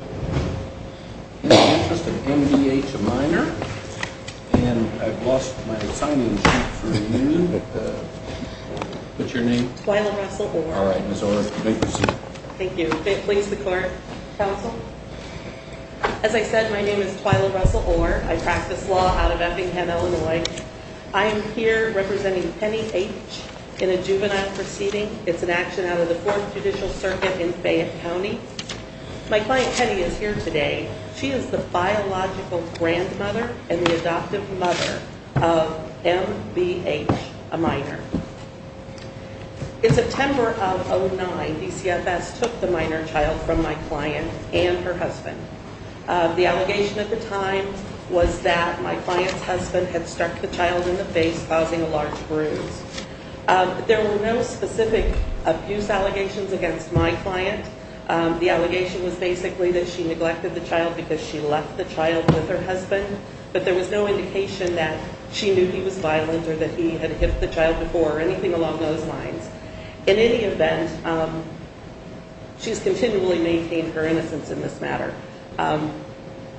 In the Interest of M.B.H., a minor, and I've lost my signing sheet for the union, but what's your name? Twyla Russell-Orr. All right, Ms. Orr, you may proceed. Thank you. Please, the court, counsel. As I said, my name is Twyla Russell-Orr. I practice law out of Effingham, Illinois. I am here representing Penny H. in a juvenile proceeding. It's an action out of the Fourth Judicial Circuit in Fayette County. My client, Penny, is here today. She is the biological grandmother and the adoptive mother of M.B.H., a minor. In September of 2009, DCFS took the minor child from my client and her husband. The allegation at the time was that my client's husband had struck the child in the face, causing a large bruise. There were no specific abuse allegations against my client. The allegation was basically that she neglected the child because she left the child with her husband, but there was no indication that she knew he was violent or that he had hit the child before or anything along those lines. In any event, she's continually maintained her innocence in this matter.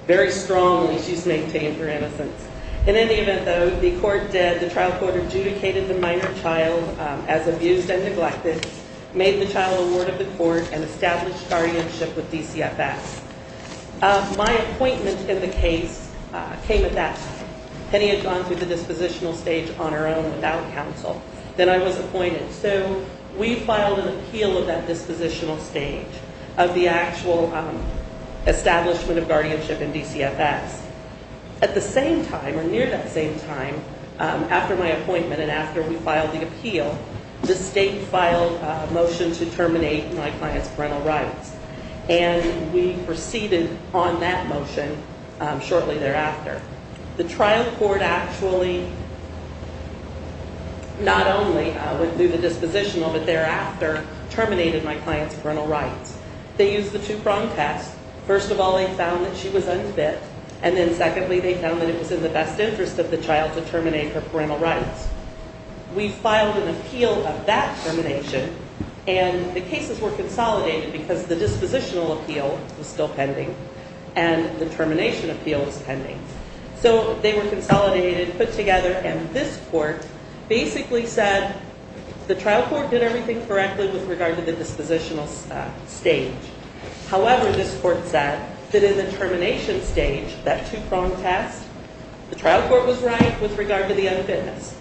Very strongly, she's maintained her innocence. In any event, though, the court did, the trial court adjudicated the minor child as abused and neglected, made the child a ward of the court, and established guardianship with DCFS. My appointment in the case came at that time. Penny had gone through the dispositional stage on her own without counsel. Then I was appointed. So we filed an appeal of that dispositional stage of the actual establishment of guardianship in DCFS. At the same time, or near that same time, after my appointment and after we filed the appeal, the state filed a motion to terminate my client's parental rights. And we proceeded on that motion shortly thereafter. The trial court actually not only went through the dispositional, but thereafter terminated my client's parental rights. They used the two prong tests. First of all, they found that she was unfit. And then secondly, they found that it was in the best interest of the child to terminate her parental rights. We filed an appeal of that termination, and the cases were consolidated because the dispositional appeal was still pending and the termination appeal was pending. So they were consolidated, put together, and this court basically said the trial court did everything correctly with regard to the dispositional stage. However, this court said that in the termination stage, that two prong test, the trial court was right with regard to the unfitness.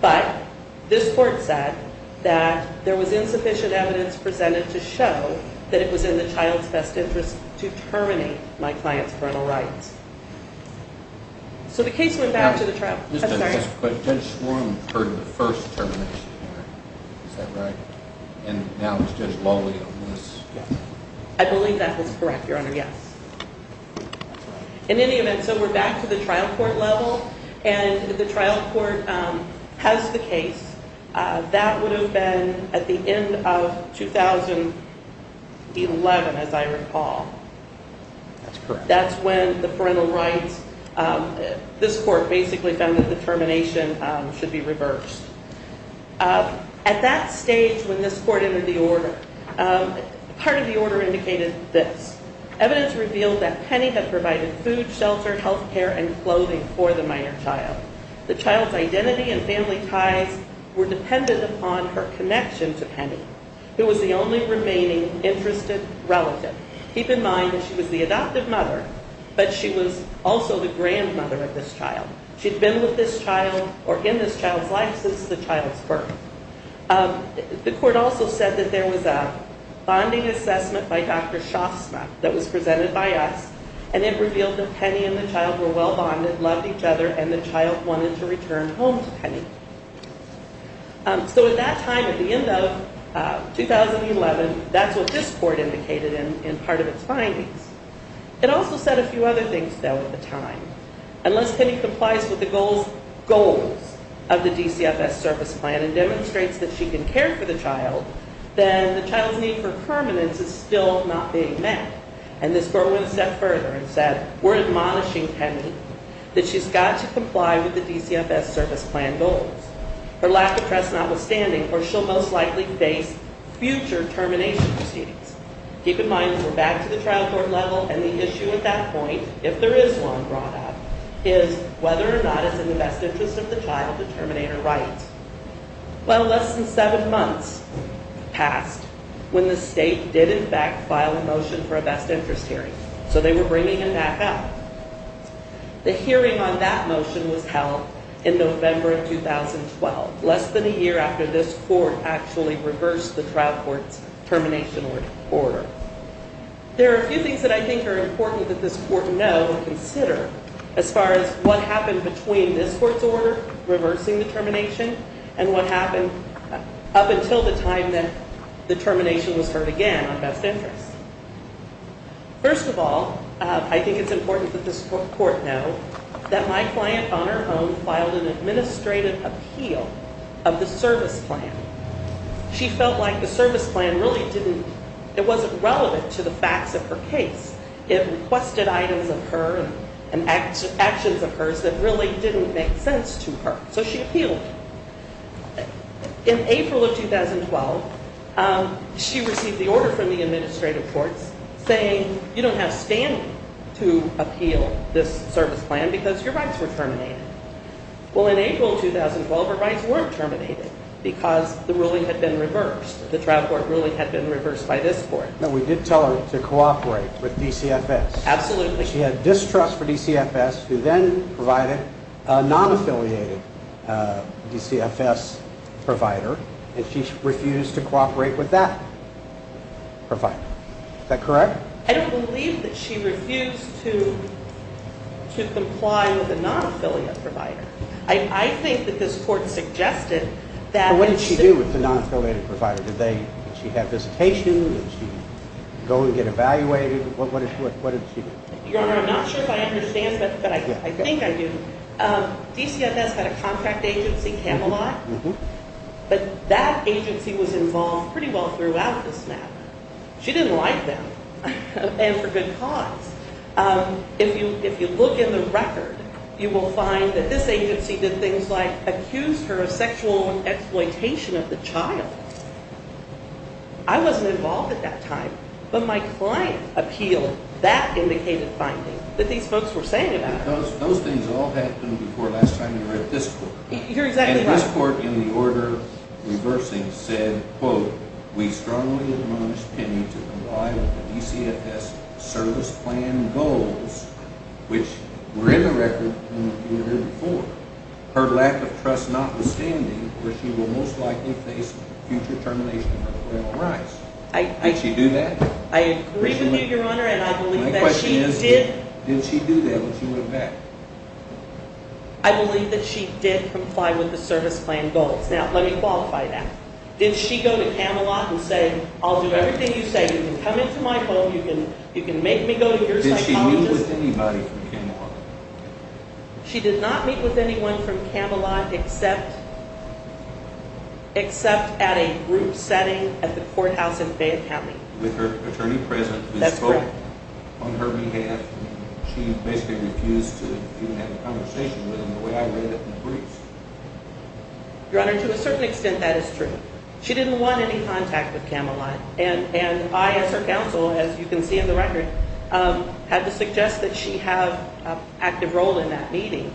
But this court said that there was insufficient evidence presented to show that it was in the child's best interest to terminate my client's parental rights. So the case went back to the trial court. But Judge Swarm heard the first termination hearing, is that right? And now it's Judge Lawley on this. I believe that is correct, Your Honor, yes. In any event, so we're back to the trial court level, and the trial court has the case. That would have been at the end of 2011, as I recall. That's correct. This court basically found that the termination should be reversed. At that stage, when this court entered the order, part of the order indicated this. Evidence revealed that Penny had provided food, shelter, health care, and clothing for the minor child. The child's identity and family ties were dependent upon her connection to Penny, who was the only remaining interested relative. Keep in mind that she was the adoptive mother, but she was also the grandmother of this child. She'd been with this child or in this child's life since the child's birth. The court also said that there was a bonding assessment by Dr. Shostma that was presented by us, and it revealed that Penny and the child were well bonded, loved each other, and the child wanted to return home to Penny. So at that time, at the end of 2011, that's what this court indicated in part of its findings. It also said a few other things, though, at the time. Unless Penny complies with the goals of the DCFS service plan and demonstrates that she can care for the child, then the child's need for permanence is still not being met. And this court went a step further and said, we're admonishing Penny that she's got to comply with the DCFS service plan goals. Her lack of trust notwithstanding, or she'll most likely face future termination proceedings. Keep in mind that we're back to the trial court level, and the issue at that point, if there is one brought up, is whether or not it's in the best interest of the child to terminate her rights. Well, less than seven months passed when the state did in fact file a motion for a best interest hearing. So they were bringing him back out. The hearing on that motion was held in November of 2012, less than a year after this court actually reversed the trial court's termination order. There are a few things that I think are important that this court know and consider as far as what happened between this court's order reversing the termination and what happened up until the time that the termination was heard again on best interest. First of all, I think it's important that this court know that my client on her own filed an administrative appeal of the service plan. She felt like the service plan really didn't, it wasn't relevant to the facts of her case. It requested items of her and actions of hers that really didn't make sense to her. So she appealed. In April of 2012, she received the order from the administrative courts saying, you don't have standing to appeal this service plan because your rights were terminated. Well, in April of 2012, her rights weren't terminated because the ruling had been reversed. The trial court ruling had been reversed by this court. No, we did tell her to cooperate with DCFS. Absolutely. She had distrust for DCFS, who then provided a non-affiliated DCFS provider, and she refused to cooperate with that provider. Is that correct? I don't believe that she refused to comply with a non-affiliated provider. I think that this court suggested that… What did she do with the non-affiliated provider? Did she have visitation? Did she go and get evaluated? What did she do? Your Honor, I'm not sure if I understand, but I think I do. DCFS had a contract agency, Camelot, but that agency was involved pretty well throughout the snap. She didn't like them, and for good cause. If you look in the record, you will find that this agency did things like accuse her of sexual exploitation of the child. I wasn't involved at that time, but my client appealed that indicated finding that these folks were saying about her. Those things all happened before last time you were at this court. You're exactly right. And this court, in the order reversing, said, quote, Did she do that? I agree with you, Your Honor, and I believe that she did. My question is, did she do that when she went back? I believe that she did comply with the service plan goals. Now, let me qualify that. Did she go to Camelot and say, I'll do everything you say. You can come into my home. You can make me go to your psychologist. Did she meet with anybody from Camelot? She did not meet with anyone from Camelot except at a group setting at the courthouse in Fayette County. With her attorney present who spoke on her behalf. She basically refused to even have a conversation with him the way I read it in the briefs. Your Honor, to a certain extent, that is true. She didn't want any contact with Camelot. And I, as her counsel, as you can see in the record, had to suggest that she have an active role in that meeting.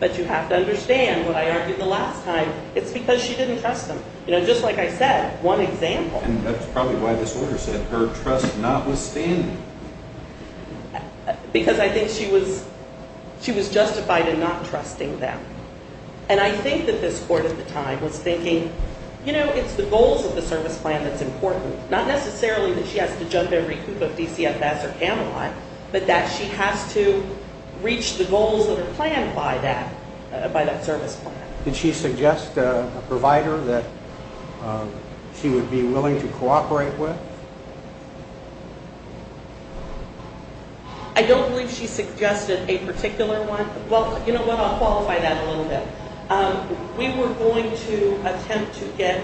But you have to understand what I argued the last time. It's because she didn't trust him. Just like I said, one example. And that's probably why this order said her trust notwithstanding. Because I think she was justified in not trusting them. And I think that this court at the time was thinking, you know, it's the goals of the service plan that's important. Not necessarily that she has to jump every coop of DCFS or Camelot. But that she has to reach the goals of her plan by that service plan. Did she suggest a provider that she would be willing to cooperate with? I don't believe she suggested a particular one. Well, you know what, I'll qualify that a little bit. We were going to attempt to get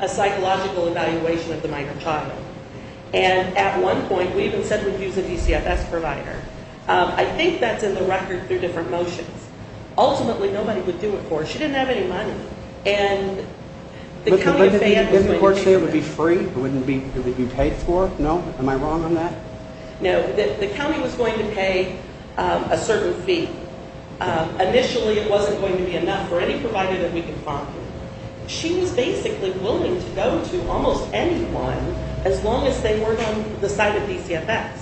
a psychological evaluation of the minor child. And at one point, we even said we'd use a DCFS provider. I think that's in the record through different motions. Ultimately, nobody would do it for her. She didn't have any money. And the County of Fayette was going to do it. Didn't the court say it would be free? It would be paid for? No? Am I wrong on that? No. The county was going to pay a certain fee. Initially, it wasn't going to be enough for any provider that we could find. She was basically willing to go to almost anyone as long as they weren't on the side of DCFS.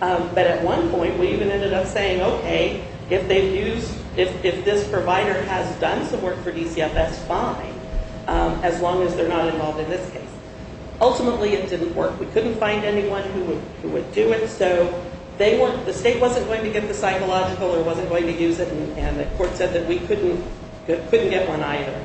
But at one point, we even ended up saying, okay, if this provider has done some work for DCFS, fine. As long as they're not involved in this case. Ultimately, it didn't work. We couldn't find anyone who would do it. So the state wasn't going to get the psychological or wasn't going to use it. And the court said that we couldn't get one either.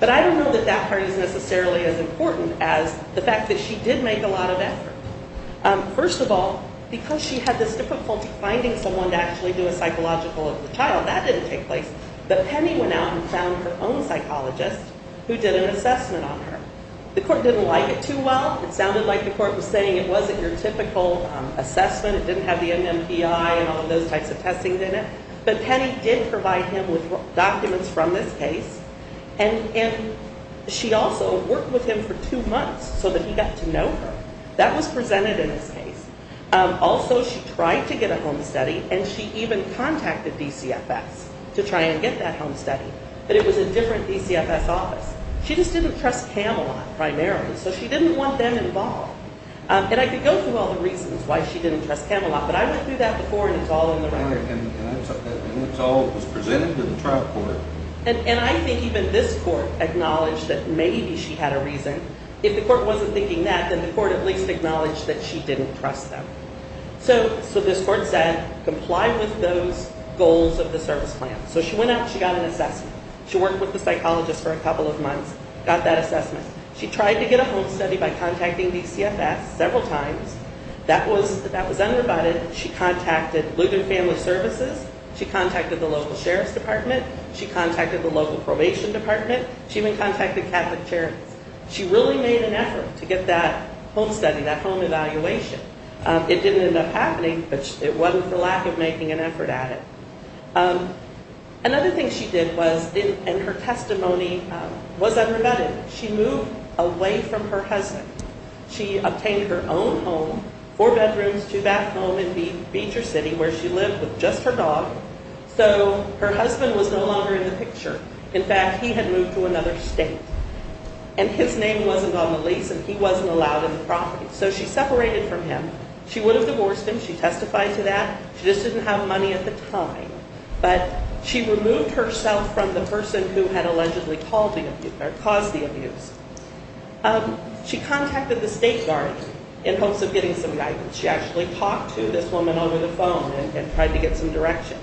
But I don't know that that part is necessarily as important as the fact that she did make a lot of effort. First of all, because she had this difficulty finding someone to actually do a psychological of the child, that didn't take place. But Penny went out and found her own psychologist who did an assessment on her. The court didn't like it too well. It sounded like the court was saying it wasn't your typical assessment. It didn't have the NMPI and all of those types of testing in it. But Penny did provide him with documents from this case. And she also worked with him for two months so that he got to know her. That was presented in his case. Also, she tried to get a home study, and she even contacted DCFS to try and get that home study. But it was a different DCFS office. She just didn't trust Camelot primarily, so she didn't want them involved. And I could go through all the reasons why she didn't trust Camelot, but I went through that before, and it's all in the record. And it was presented to the trial court. And I think even this court acknowledged that maybe she had a reason. If the court wasn't thinking that, then the court at least acknowledged that she didn't trust them. So this court said comply with those goals of the service plan. So she went out and she got an assessment. She worked with the psychologist for a couple of months, got that assessment. She tried to get a home study by contacting DCFS several times. That was undervoted. She contacted Ligon Family Services. She contacted the local sheriff's department. She contacted the local probation department. She even contacted Catholic Charities. She really made an effort to get that home study, that home evaluation. It didn't end up happening, but it wasn't for lack of making an effort at it. Another thing she did was, and her testimony was unrebutted, she moved away from her husband. She obtained her own home, four bedrooms, two bath homes in Beecher City where she lived with just her dog. So her husband was no longer in the picture. In fact, he had moved to another state. And his name wasn't on the lease, and he wasn't allowed in the property. So she separated from him. She would have divorced him. She testified to that. She just didn't have money at the time. But she removed herself from the person who had allegedly caused the abuse. She contacted the state guard in hopes of getting some guidance. She actually talked to this woman over the phone and tried to get some direction.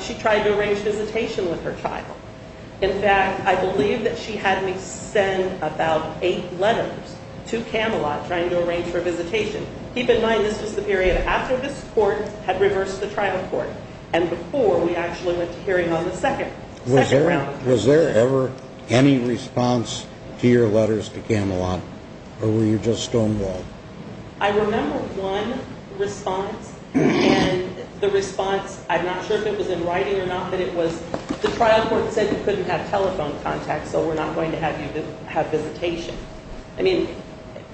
She tried to arrange visitation with her child. In fact, I believe that she had me send about eight letters to Camelot trying to arrange for a visitation. Keep in mind this was the period after this court had reversed the trial court and before we actually went to hearing on the second round. Was there ever any response to your letters to Camelot, or were you just stonewalled? I remember one response, and the response, I'm not sure if it was in writing or not, but it was, the trial court said you couldn't have telephone contact, so we're not going to have you have visitation. I mean,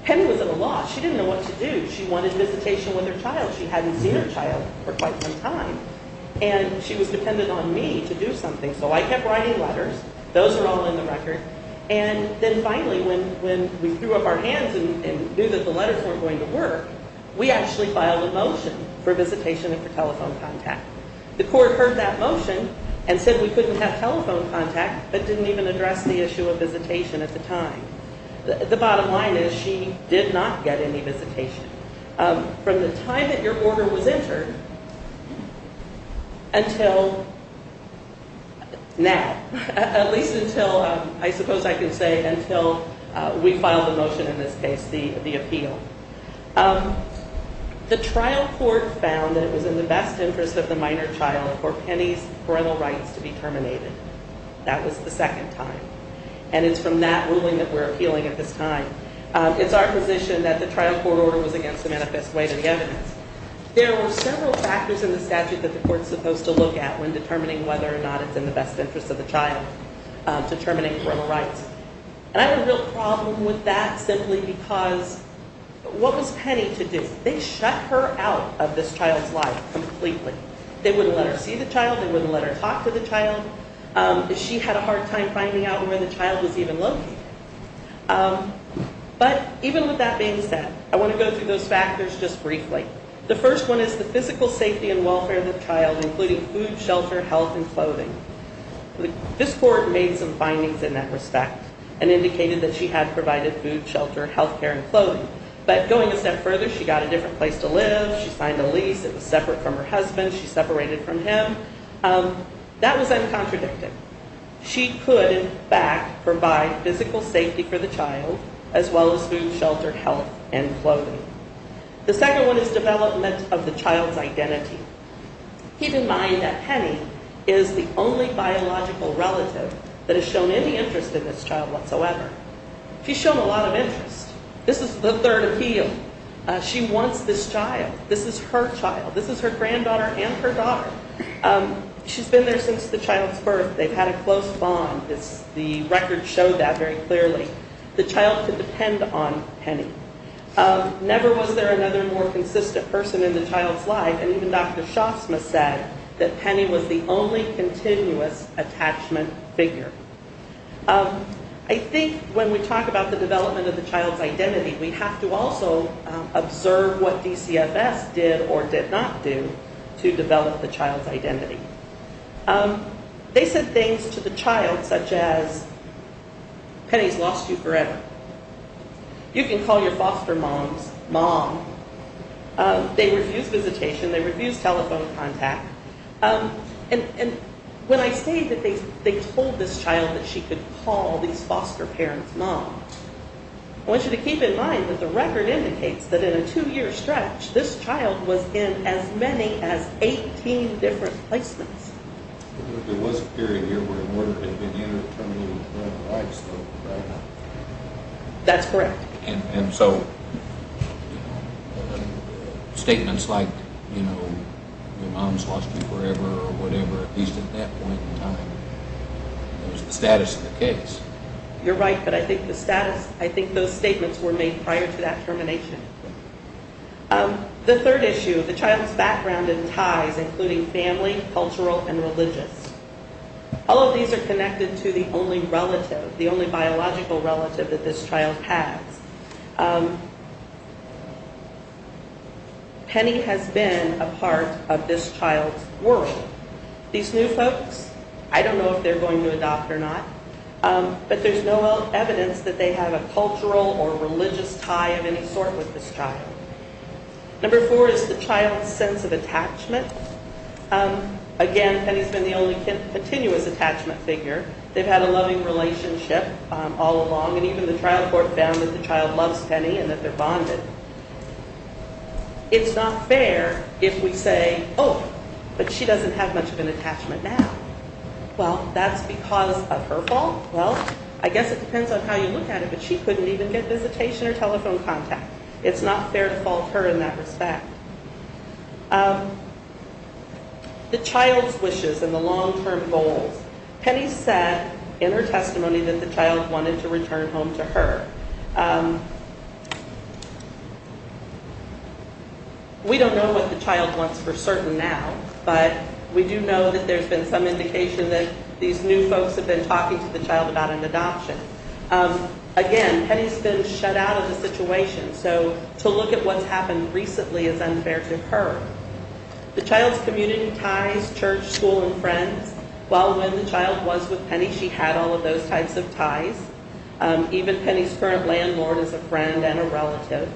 Penny was at a loss. She didn't know what to do. She wanted visitation with her child. She hadn't seen her child for quite some time, and she was dependent on me to do something. So I kept writing letters. Those are all in the record. And then finally when we threw up our hands and knew that the letters weren't going to work, we actually filed a motion for visitation and for telephone contact. The court heard that motion and said we couldn't have telephone contact but didn't even address the issue of visitation at the time. The bottom line is she did not get any visitation from the time that your order was entered until now, at least until I suppose I can say until we filed the motion in this case, the appeal. The trial court found that it was in the best interest of the minor child for Penny's parental rights to be terminated. That was the second time. And it's from that ruling that we're appealing at this time. It's our position that the trial court order was against the manifest way to the evidence. There were several factors in the statute that the court is supposed to look at when determining whether or not it's in the best interest of the child, determining parental rights. And I had a real problem with that simply because what was Penny to do? They shut her out of this child's life completely. They wouldn't let her see the child. They wouldn't let her talk to the child. She had a hard time finding out where the child was even located. But even with that being said, I want to go through those factors just briefly. The first one is the physical safety and welfare of the child, including food, shelter, health, and clothing. This court made some findings in that respect and indicated that she had provided food, shelter, health care, and clothing. But going a step further, she got a different place to live. She signed a lease. It was separate from her husband. She separated from him. That was uncontradicted. She could, in fact, provide physical safety for the child as well as food, shelter, health, and clothing. The second one is development of the child's identity. Keep in mind that Penny is the only biological relative that has shown any interest in this child whatsoever. She's shown a lot of interest. This is the third appeal. She wants this child. This is her child. This is her granddaughter and her daughter. She's been there since the child's birth. They've had a close bond. The record showed that very clearly. The child could depend on Penny. Never was there another more consistent person in the child's life. And even Dr. Shostma said that Penny was the only continuous attachment figure. I think when we talk about the development of the child's identity, we have to also observe what DCFS did or did not do to develop the child's identity. They said things to the child such as, Penny's lost you forever. You can call your foster mom's mom. They refused visitation. They refused telephone contact. And when I say that they told this child that she could call these foster parents' mom, I want you to keep in mind that the record indicates that in a two-year stretch, this child was in as many as 18 different placements. That's correct. And so statements like, you know, your mom's lost you forever or whatever, at least at that point in time, it was the status of the case. You're right, but I think those statements were made prior to that termination. The third issue, the child's background and ties, including family, cultural, and religious. All of these are connected to the only relative, the only biological relative that this child has. Penny has been a part of this child's world. These new folks, I don't know if they're going to adopt or not, but there's no evidence that they have a cultural or religious tie of any sort with this child. Again, Penny's been the only continuous attachment figure. They've had a loving relationship all along, and even the trial court found that the child loves Penny and that they're bonded. It's not fair if we say, oh, but she doesn't have much of an attachment now. Well, that's because of her fault? Well, I guess it depends on how you look at it, but she couldn't even get visitation or telephone contact. It's not fair to fault her in that respect. The child's wishes and the long-term goals. Penny said in her testimony that the child wanted to return home to her. We don't know what the child wants for certain now, but we do know that there's been some indication that these new folks have been talking to the child about an adoption. Again, Penny's been shut out of the situation, so to look at what's happened recently is unfair to her. The child's community ties, church, school, and friends. While when the child was with Penny, she had all of those types of ties. Even Penny's current landlord is a friend and a relative.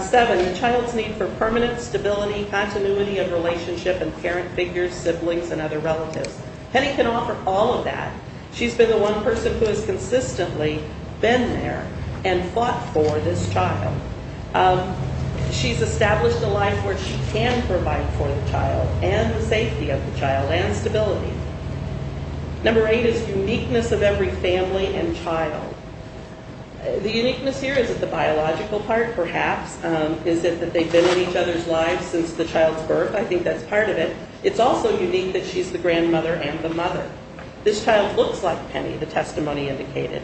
Seven, the child's need for permanent stability, continuity of relationship, and parent figures, siblings, and other relatives. Penny can offer all of that. She's been the one person who has consistently been there and fought for this child. She's established a life where she can provide for the child and the safety of the child and stability. Number eight is uniqueness of every family and child. The uniqueness here isn't the biological part, perhaps. Is it that they've been in each other's lives since the child's birth? I think that's part of it. It's also unique that she's the grandmother and the mother. This child looks like Penny, the testimony indicated.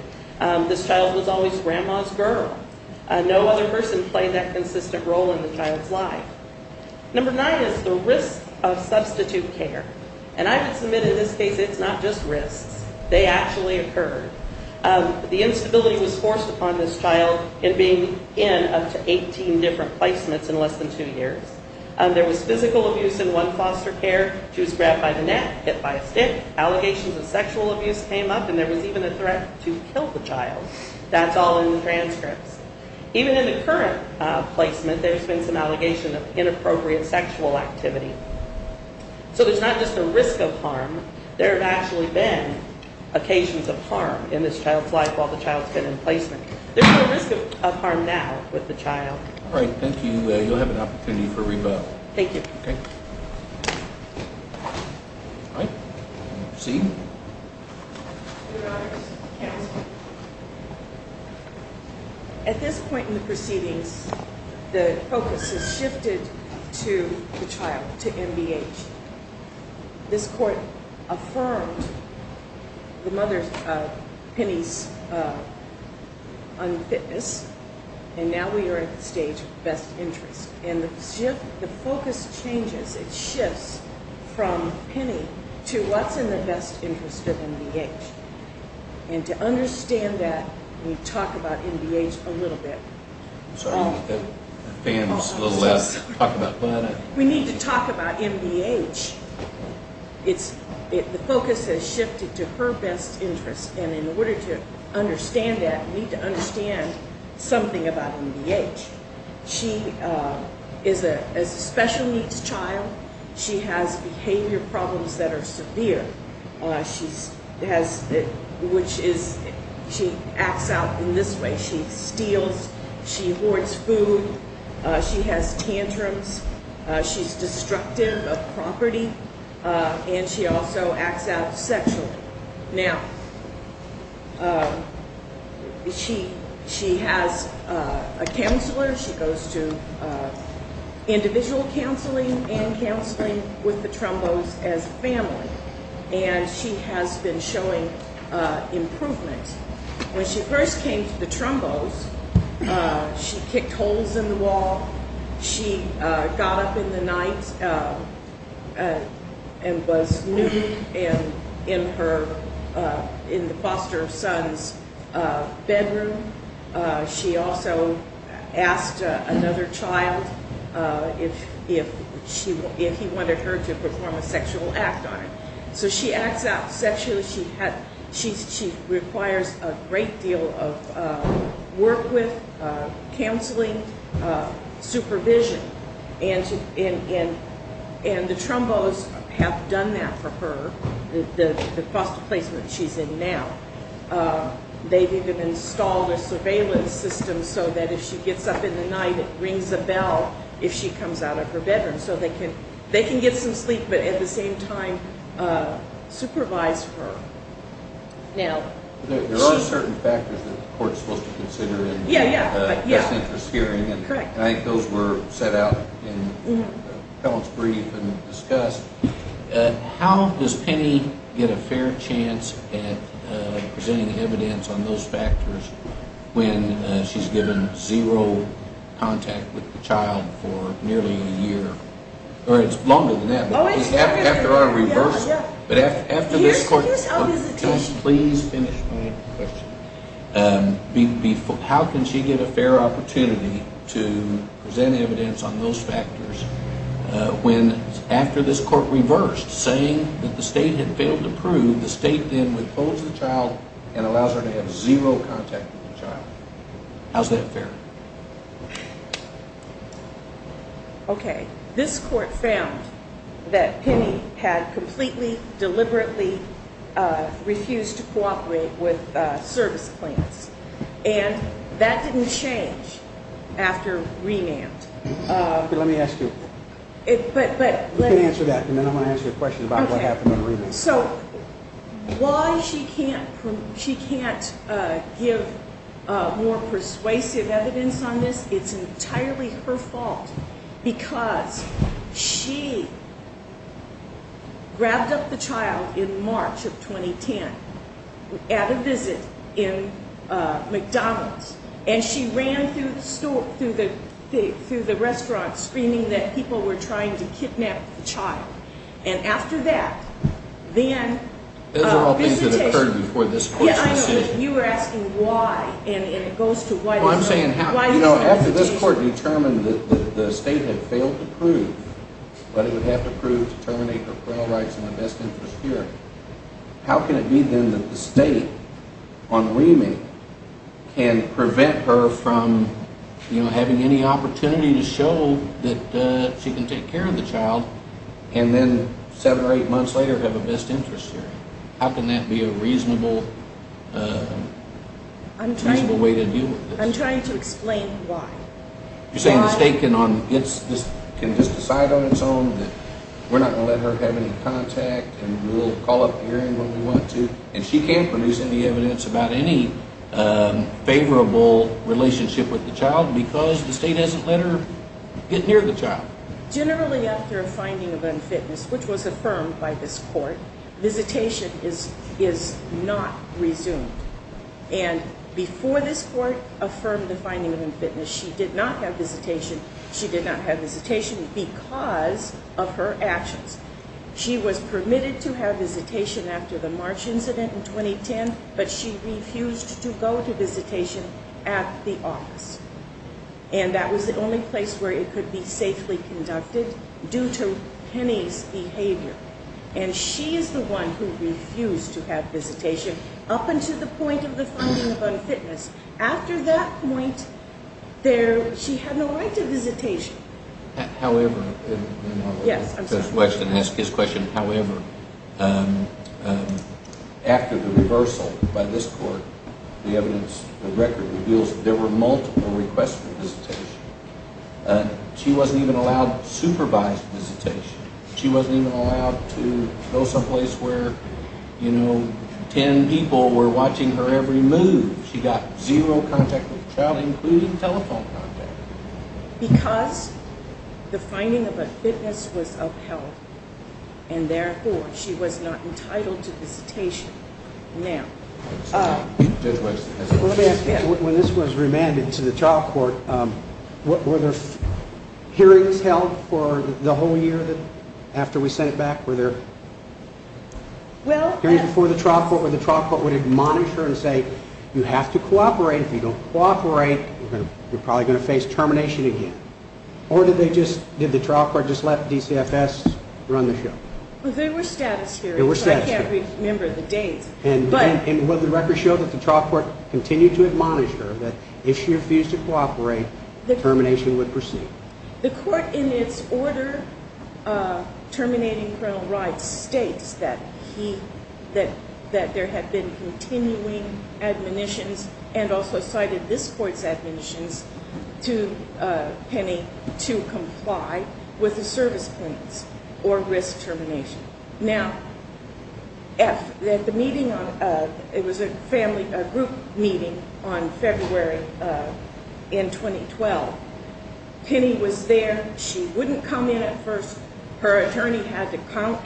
This child was always grandma's girl. No other person played that consistent role in the child's life. Number nine is the risk of substitute care. And I have to admit, in this case, it's not just risks. They actually occur. The instability was forced upon this child in being in up to 18 different placements in less than two years. There was physical abuse in one foster care. She was grabbed by the neck, hit by a stick. Allegations of sexual abuse came up, and there was even a threat to kill the child. That's all in the transcripts. Even in the current placement, there's been some allegation of inappropriate sexual activity. So there's not just a risk of harm. There have actually been occasions of harm in this child's life while the child's been in placement. There's no risk of harm now with the child. All right, thank you. You'll have an opportunity for rebuttal. Thank you. All right, we'll proceed. At this point in the proceedings, the focus has shifted to the child, to MBH. This court affirmed Penny's unfitness, and now we are at the stage of best interest. And the focus changes. It shifts from Penny to what's in the best interest of MBH. And to understand that, we talk about MBH a little bit. Sorry, the fan was a little loud. Talk about what? We need to talk about MBH. The focus has shifted to her best interest. And in order to understand that, we need to understand something about MBH. She is a special needs child. She has behavior problems that are severe, which is she acts out in this way. She steals. She hoards food. She has tantrums. She's destructive of property. And she also acts out sexually. Now, she has a counselor. She goes to individual counseling and counseling with the Trombos as family. And she has been showing improvement. When she first came to the Trombos, she kicked holes in the wall. She got up in the night and was nude in the foster son's bedroom. She also asked another child if he wanted her to perform a sexual act on him. So she acts out sexually. She requires a great deal of work with, counseling, supervision. And the Trombos have done that for her, the foster placement she's in now. They've even installed a surveillance system so that if she gets up in the night, it rings a bell if she comes out of her bedroom. So they can get some sleep but, at the same time, supervise her. There are certain factors that the court is supposed to consider in a just interest hearing. And I think those were set out in Helen's brief and discussed. How does Penny get a fair chance at presenting evidence on those factors when she's given zero contact with the child for nearly a year? Or it's longer than that. Oh, it's longer than that. After our reversal. But after this court… Here's how it is. Please finish my question. How can she get a fair opportunity to present evidence on those factors when, after this court reversed, saying that the state had failed to prove, the state then withholds the child and allows her to have zero contact with the child? How's that fair? Okay. This court found that Penny had completely, deliberately refused to cooperate with service plans. And that didn't change after renamed. Let me ask you. You can answer that. And then I'm going to ask you a question about what happened when renamed. So why she can't give more persuasive evidence on this, it's entirely her fault. Because she grabbed up the child in March of 2010 at a visit in McDonald's. And she ran through the restaurant screaming that people were trying to kidnap the child. And after that, then… Those are all things that occurred before this court's decision. Yeah, I know. But you were asking why. And it goes to why… Well, I'm saying, you know, after this court determined that the state had failed to prove, but it would have to prove to terminate her parental rights and invest in her security, how can it be, then, that the state, on the remake, can prevent her from, you know, having any opportunity to show that she can take care of the child and then seven or eight months later have a best interest hearing? How can that be a reasonable way to deal with this? I'm trying to explain why. You're saying the state can just decide on its own that we're not going to let her have any contact and we'll call up the hearing when we want to, and she can't produce any evidence about any favorable relationship with the child because the state hasn't let her get near the child. Generally, after a finding of unfitness, which was affirmed by this court, visitation is not resumed. And before this court affirmed the finding of unfitness, she did not have visitation. She did not have visitation because of her actions. She was permitted to have visitation after the March incident in 2010, but she refused to go to visitation at the office. And that was the only place where it could be safely conducted due to Penny's behavior. And she is the one who refused to have visitation up until the point of the finding of unfitness. After that point, she had no right to visitation. However, after the reversal by this court, the evidence of record reveals that there were multiple requests for visitation. She wasn't even allowed supervised visitation. She wasn't even allowed to go someplace where 10 people were watching her every move. She got zero contact with the child, including telephone contact. Because the finding of unfitness was upheld, and therefore she was not entitled to visitation now. Let me ask you, when this was remanded to the trial court, were there hearings held for the whole year after we sent it back? Hearings before the trial court where the trial court would admonish her and say, you have to cooperate. If you don't cooperate, you're probably going to face termination again. Or did the trial court just let DCFS run the show? There were status hearings. I can't remember the dates. And would the record show that the trial court continued to admonish her that if she refused to cooperate, termination would proceed? The court in its order terminating parental rights states that there had been continuing admonitions and also cited this court's admonitions to Penny to comply with the service plans or risk termination. Now, at the meeting, it was a group meeting on February in 2012. Penny was there. She wouldn't come in at first. Her attorney had to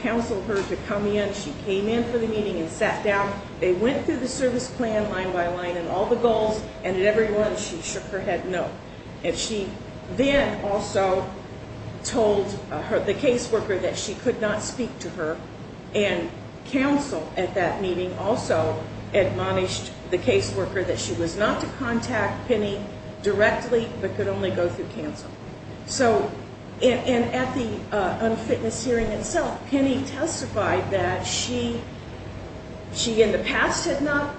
counsel her to come in. She came in for the meeting and sat down. They went through the service plan line by line and all the goals. And at every one, she shook her head no. And she then also told the caseworker that she could not speak to her. And counsel at that meeting also admonished the caseworker that she was not to contact Penny directly but could only go through counsel. So at the unfitness hearing itself, Penny testified that she in the past had not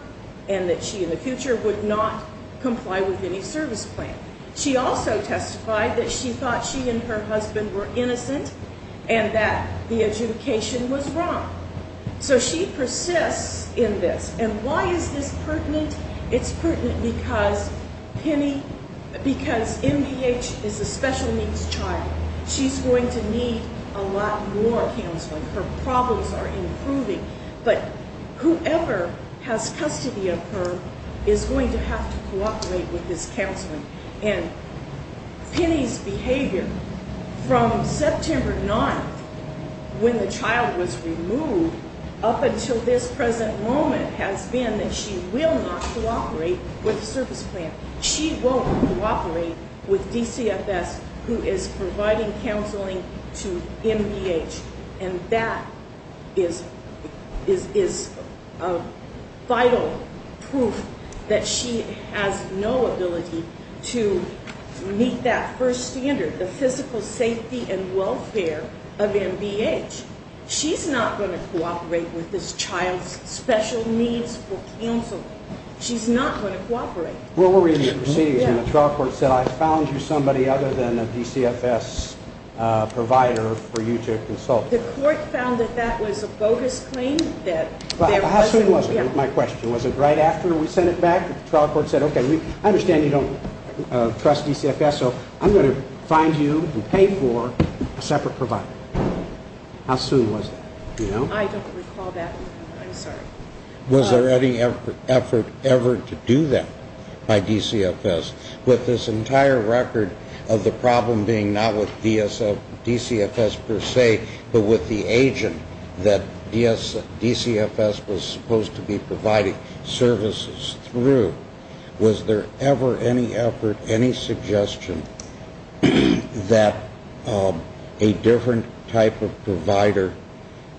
and that she in the future would not comply with any service plan. She also testified that she thought she and her husband were innocent and that the adjudication was wrong. So she persists in this. And why is this pertinent? It's pertinent because Penny, because MPH is a special needs child. She's going to need a lot more counseling. Her problems are improving. But whoever has custody of her is going to have to cooperate with this counseling. And Penny's behavior from September 9th, when the child was removed, up until this present moment, has been that she will not cooperate with the service plan. She won't cooperate with DCFS, who is providing counseling to MPH. And that is vital proof that she has no ability to meet that first standard, the physical safety and welfare of MPH. She's not going to cooperate with this child's special needs for counseling. She's not going to cooperate. What were you receiving when the trial court said, I found you somebody other than a DCFS provider for you to consult with? The court found that that was a bogus claim. How soon was it, my question? Was it right after we sent it back? The trial court said, okay, I understand you don't trust DCFS, so I'm going to find you and pay for a separate provider. How soon was that? I don't recall that. I'm sorry. Was there any effort ever to do that by DCFS, with this entire record of the problem being not with DCFS per se, but with the agent that DCFS was supposed to be providing services through? Was there ever any effort, any suggestion that a different type of provider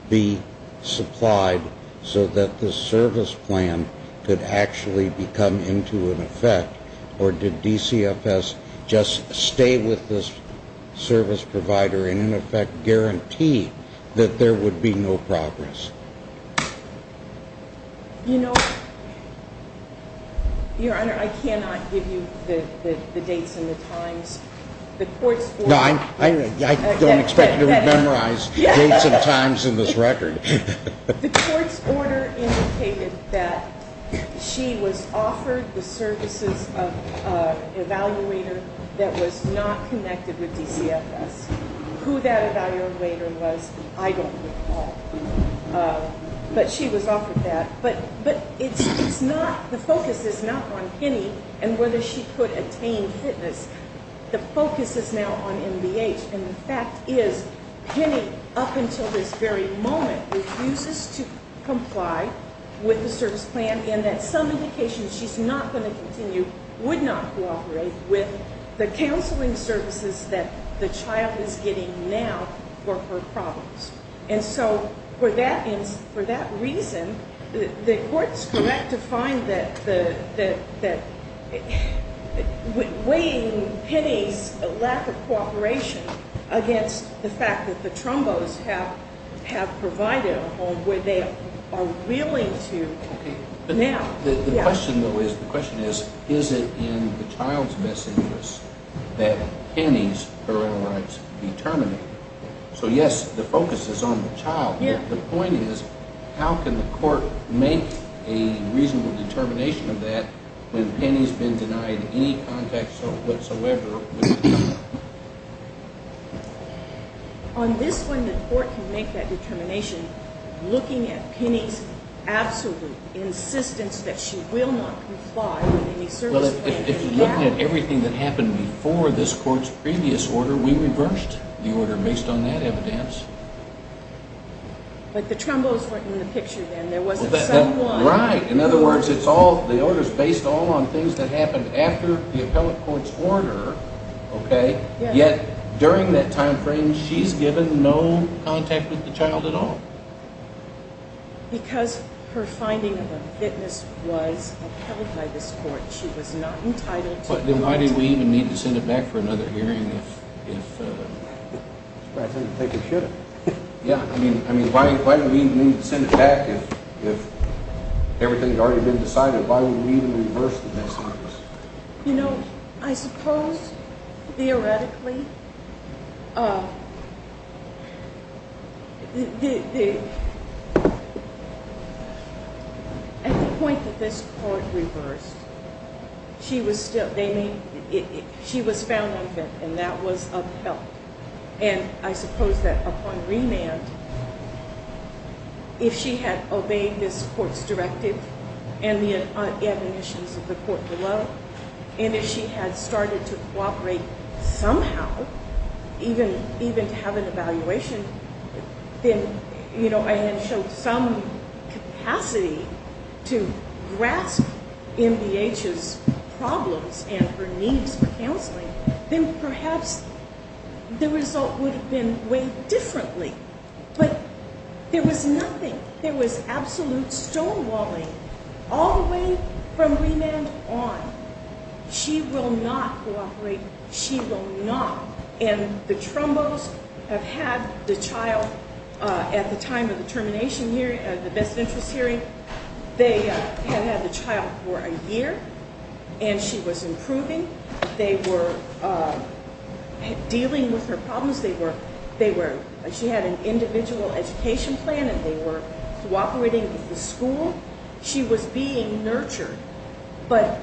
be supplied so that the service plan could actually become into an effect, or did DCFS just stay with this service provider and in effect guarantee that there would be no progress? You know, Your Honor, I cannot give you the dates and the times. The court's order. No, I don't expect you to memorize dates and times in this record. The court's order indicated that she was offered the services of an evaluator that was not connected with DCFS. Who that evaluator was, I don't recall. But she was offered that. But the focus is not on Penny and whether she could attain fitness. The focus is now on MDH, and the fact is Penny, up until this very moment, refuses to comply with the service plan in that some indication she's not going to continue, would not cooperate with the counseling services that the child is getting now for her problems. And so for that reason, the court's correct to find that weighing Penny's lack of cooperation against the fact that the Trombos have provided a home where they are willing to now. The question, though, is is it in the child's best interest that Penny's parental rights be terminated? So, yes, the focus is on the child. But the point is how can the court make a reasonable determination of that when Penny's been denied any contact whatsoever with the child? On this one, the court can make that determination looking at Penny's absolute insistence that she will not comply with any service plan. If you're looking at everything that happened before this court's previous order, we reversed the order based on that evidence. But the Trombos weren't in the picture then. There wasn't someone. Right. In other words, the order's based all on things that happened after the appellate court's order, okay? Yet during that time frame, she's given no contact with the child at all. Because her finding of a witness was upheld by this court, she was not entitled to the right to- But then why do we even need to send it back for another hearing if- I think we should have. Yeah, I mean, why do we need to send it back if everything's already been decided? Why would we even reverse the message? You know, I suppose, theoretically, at the point that this court reversed, she was found unfit, and that was upheld. And I suppose that upon remand, if she had obeyed this court's directive and the admonitions of the court below, and if she had started to cooperate somehow, even to have an evaluation, then, you know, I had shown some capacity to grasp MDH's problems and her needs for counseling, then perhaps the result would have been weighed differently. But there was nothing. There was absolute stonewalling all the way from remand on. She will not cooperate. She will not. And the Trombos have had the child at the time of the termination hearing, the best interest hearing, they had had the child for a year, and she was improving. They were dealing with her problems. She had an individual education plan, and they were cooperating with the school. She was being nurtured. But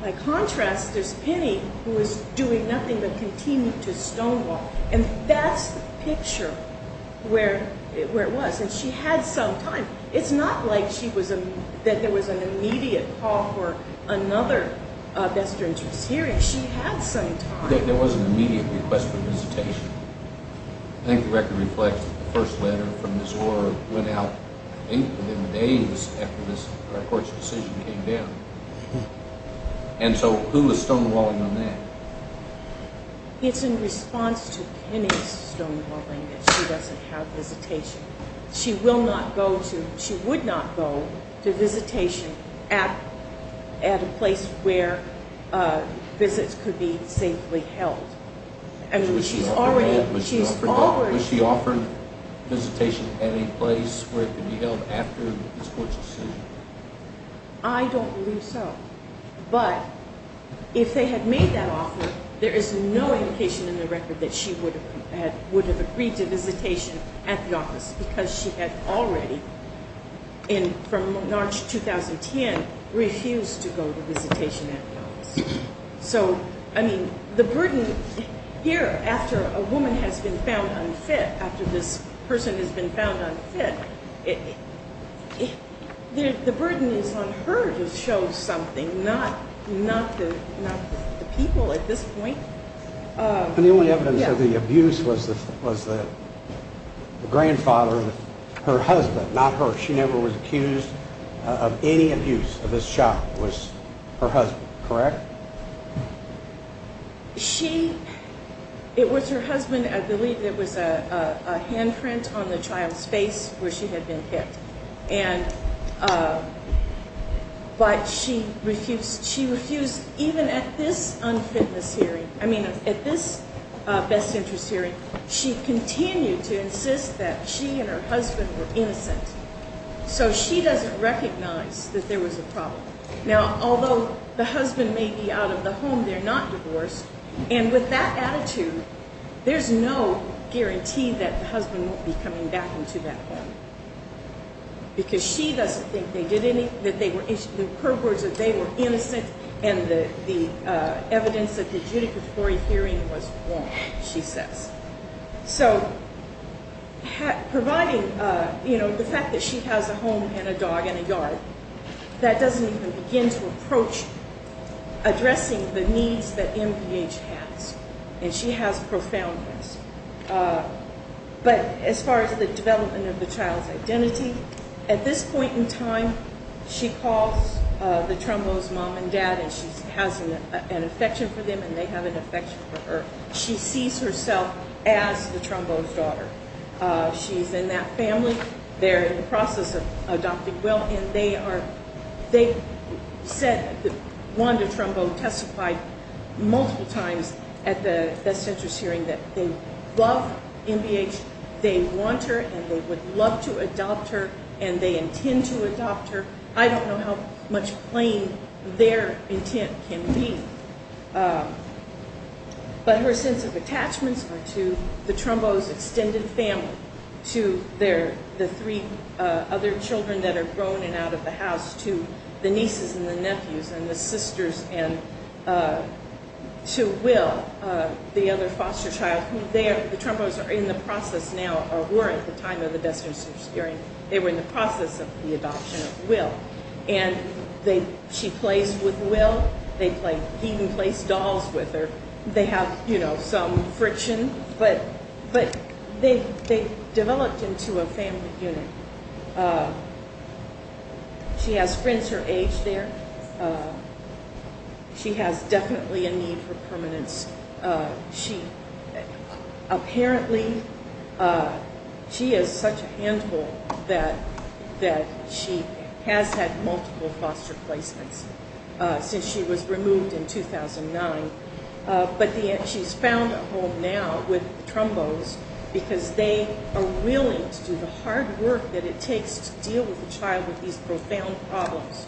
by contrast, there's Penny, who is doing nothing but continue to stonewall. And that's the picture where it was. And she had some time. It's not like there was an immediate call for another best interest hearing. She had some time. There was an immediate request for visitation. I think the record reflects the first letter from Ms. Orr that went out in the days after this court's decision came down. And so who was stonewalling on that? It's in response to Penny's stonewalling that she doesn't have visitation. She will not go to visitation at a place where visits could be safely held. Was she offered visitation at a place where it could be held after this court's decision? I don't believe so. But if they had made that offer, there is no indication in the record that she would have agreed to visitation at the office because she had already, from March 2010, refused to go to visitation at the office. So, I mean, the burden here, after a woman has been found unfit, after this person has been found unfit, the burden is on her to show something, not the people at this point. And the only evidence of the abuse was the grandfather, her husband, not her. She never was accused of any abuse of this child. It was her husband, correct? She, it was her husband, I believe it was a handprint on the child's face where she had been hit. And, but she refused, she refused, even at this unfitness hearing, I mean at this best interest hearing, she continued to insist that she and her husband were innocent. So she doesn't recognize that there was a problem. Now, although the husband may be out of the home, they're not divorced. And with that attitude, there's no guarantee that the husband won't be coming back into that home. Because she doesn't think they did any, that they were, her words, that they were innocent and the evidence of the judicatory hearing was wrong, she says. So, providing, you know, the fact that she has a home and a dog and a yard, that doesn't even begin to approach addressing the needs that MPH has. And she has profoundness. But as far as the development of the child's identity, at this point in time, she calls the Trombos mom and dad and she has an affection for them and they have an affection for her. She sees herself as the Trombos daughter. She's in that family. They're in the process of adopting Will and they are, they said, Wanda Trombo testified multiple times at the best interest hearing that they love MPH, they want her and they would love to adopt her and they intend to adopt her. I don't know how much plain their intent can be. But her sense of attachments are to the Trombos extended family, to their, the three other children that are grown and out of the house, to the nieces and the nephews and the sisters and to Will, the other foster child, who they are, the Trombos are in the process now or were at the time of the best interest hearing. They were in the process of the adoption of Will. And they, she plays with Will. They play, he even plays dolls with her. They have, you know, some friction, but they've developed into a family unit. She has friends her age there. She has definitely a need for permanence. She apparently, she is such a handful that she has had multiple foster placements since she was removed in 2009. But she's found a home now with Trombos because they are willing to do the hard work that it takes to deal with a child with these profound problems.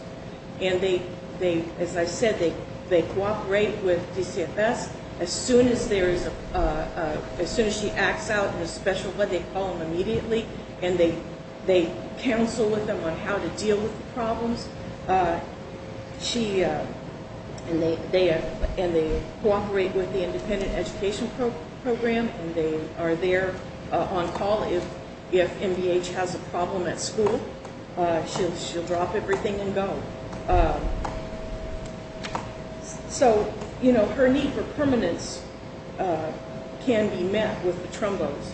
And they, as I said, they cooperate with DCFS as soon as there is a, as soon as she acts out in a special, but they call them immediately and they counsel with them on how to deal with the problems. She, and they cooperate with the independent education program and they are there on call if MBH has a problem at school. She'll drop everything and go. So, you know, her need for permanence can be met with the Trombos.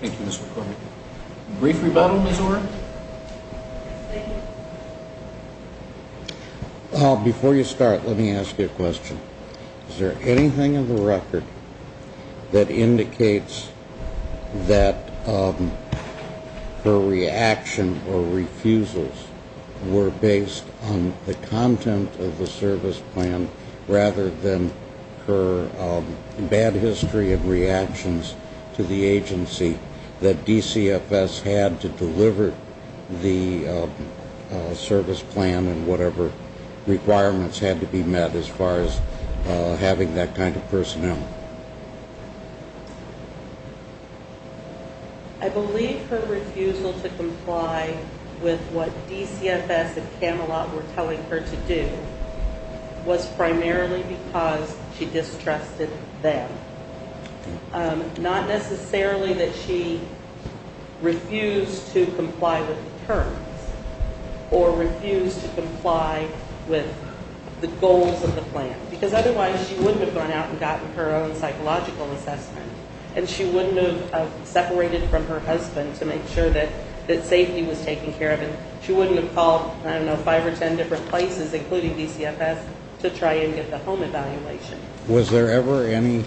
Thank you, Ms. McCormick. Brief rebuttal, Ms. Warren. Before you start, let me ask you a question. Is there anything in the record that indicates that her reaction or refusals were based on the content of the service plan rather than her bad history of reactions to the agency that DCFS had to deliver the service plan and whatever requirements had to be met as far as having that kind of personnel? I believe her refusal to comply with what DCFS and Camelot were telling her to do was primarily because she distrusted them. Not necessarily that she refused to comply with the terms or refused to comply with the goals of the plan, because otherwise she wouldn't have gone out and gotten her own psychological assessment and she wouldn't have separated from her husband to make sure that safety was taken care of and she wouldn't have called, I don't know, five or ten different places, including DCFS, to try and get the home evaluation. Was there ever any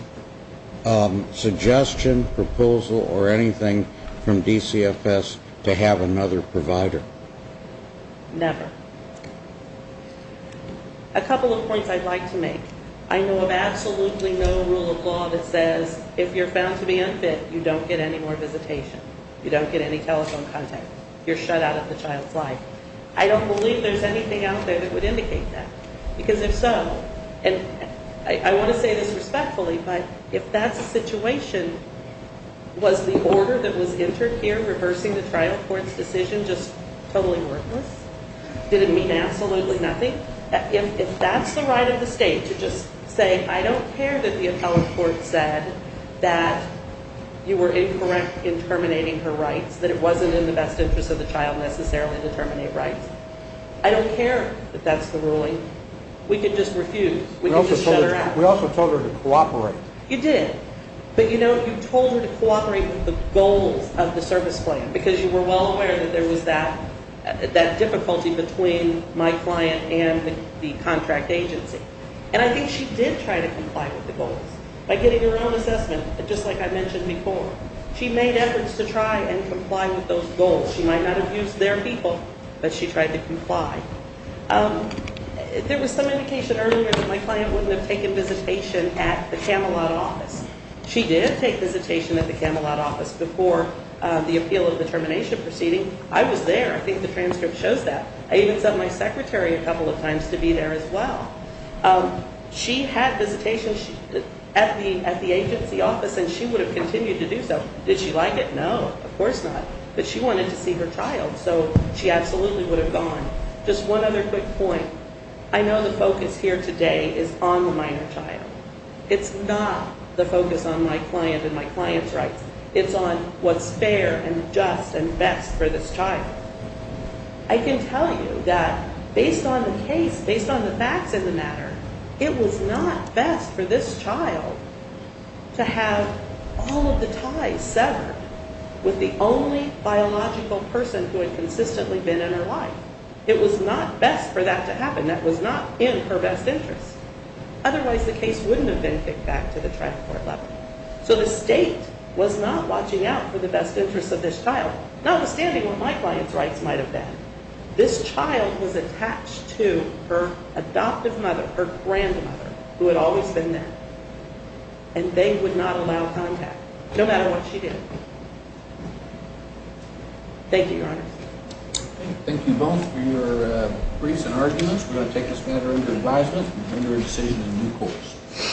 suggestion, proposal, or anything from DCFS to have another provider? Never. A couple of points I'd like to make. I know of absolutely no rule of law that says if you're found to be unfit, you don't get any more visitation, you don't get any telephone contact, you're shut out of the child's life. I don't believe there's anything out there that would indicate that, because if so, and I want to say this respectfully, but if that's the situation, was the order that was entered here, reversing the trial court's decision, just totally worthless? Did it mean absolutely nothing? If that's the right of the state to just say, I don't care that the appellate court said that you were incorrect in terminating her rights, that it wasn't in the best interest of the child necessarily to terminate rights, I don't care that that's the ruling. We could just refuse. We could just shut her out. We also told her to cooperate. You did. But, you know, you told her to cooperate with the goals of the service plan, because you were well aware that there was that difficulty between my client and the contract agency. And I think she did try to comply with the goals. By getting her own assessment, just like I mentioned before, she made efforts to try and comply with those goals. She might not have used their people, but she tried to comply. There was some indication earlier that my client wouldn't have taken visitation at the Camelot office. She did take visitation at the Camelot office before the appeal of the termination proceeding. I was there. I think the transcript shows that. I even sent my secretary a couple of times to be there as well. She had visitation at the agency office, and she would have continued to do so. Did she like it? No, of course not. But she wanted to see her child, so she absolutely would have gone. Just one other quick point. I know the focus here today is on the minor child. It's not the focus on my client and my client's rights. It's on what's fair and just and best for this child. I can tell you that based on the case, based on the facts of the matter, it was not best for this child to have all of the ties severed with the only biological person who had consistently been in her life. It was not best for that to happen. That was not in her best interest. Otherwise, the case wouldn't have been kicked back to the trial court level. So the state was not watching out for the best interests of this child, notwithstanding what my client's rights might have been. This child was attached to her adoptive mother, her grandmother, who had always been there, and they would not allow contact, no matter what she did. Thank you, Your Honor. Thank you both for your briefs and arguments. We're going to take this matter under advisement and render a decision in due course.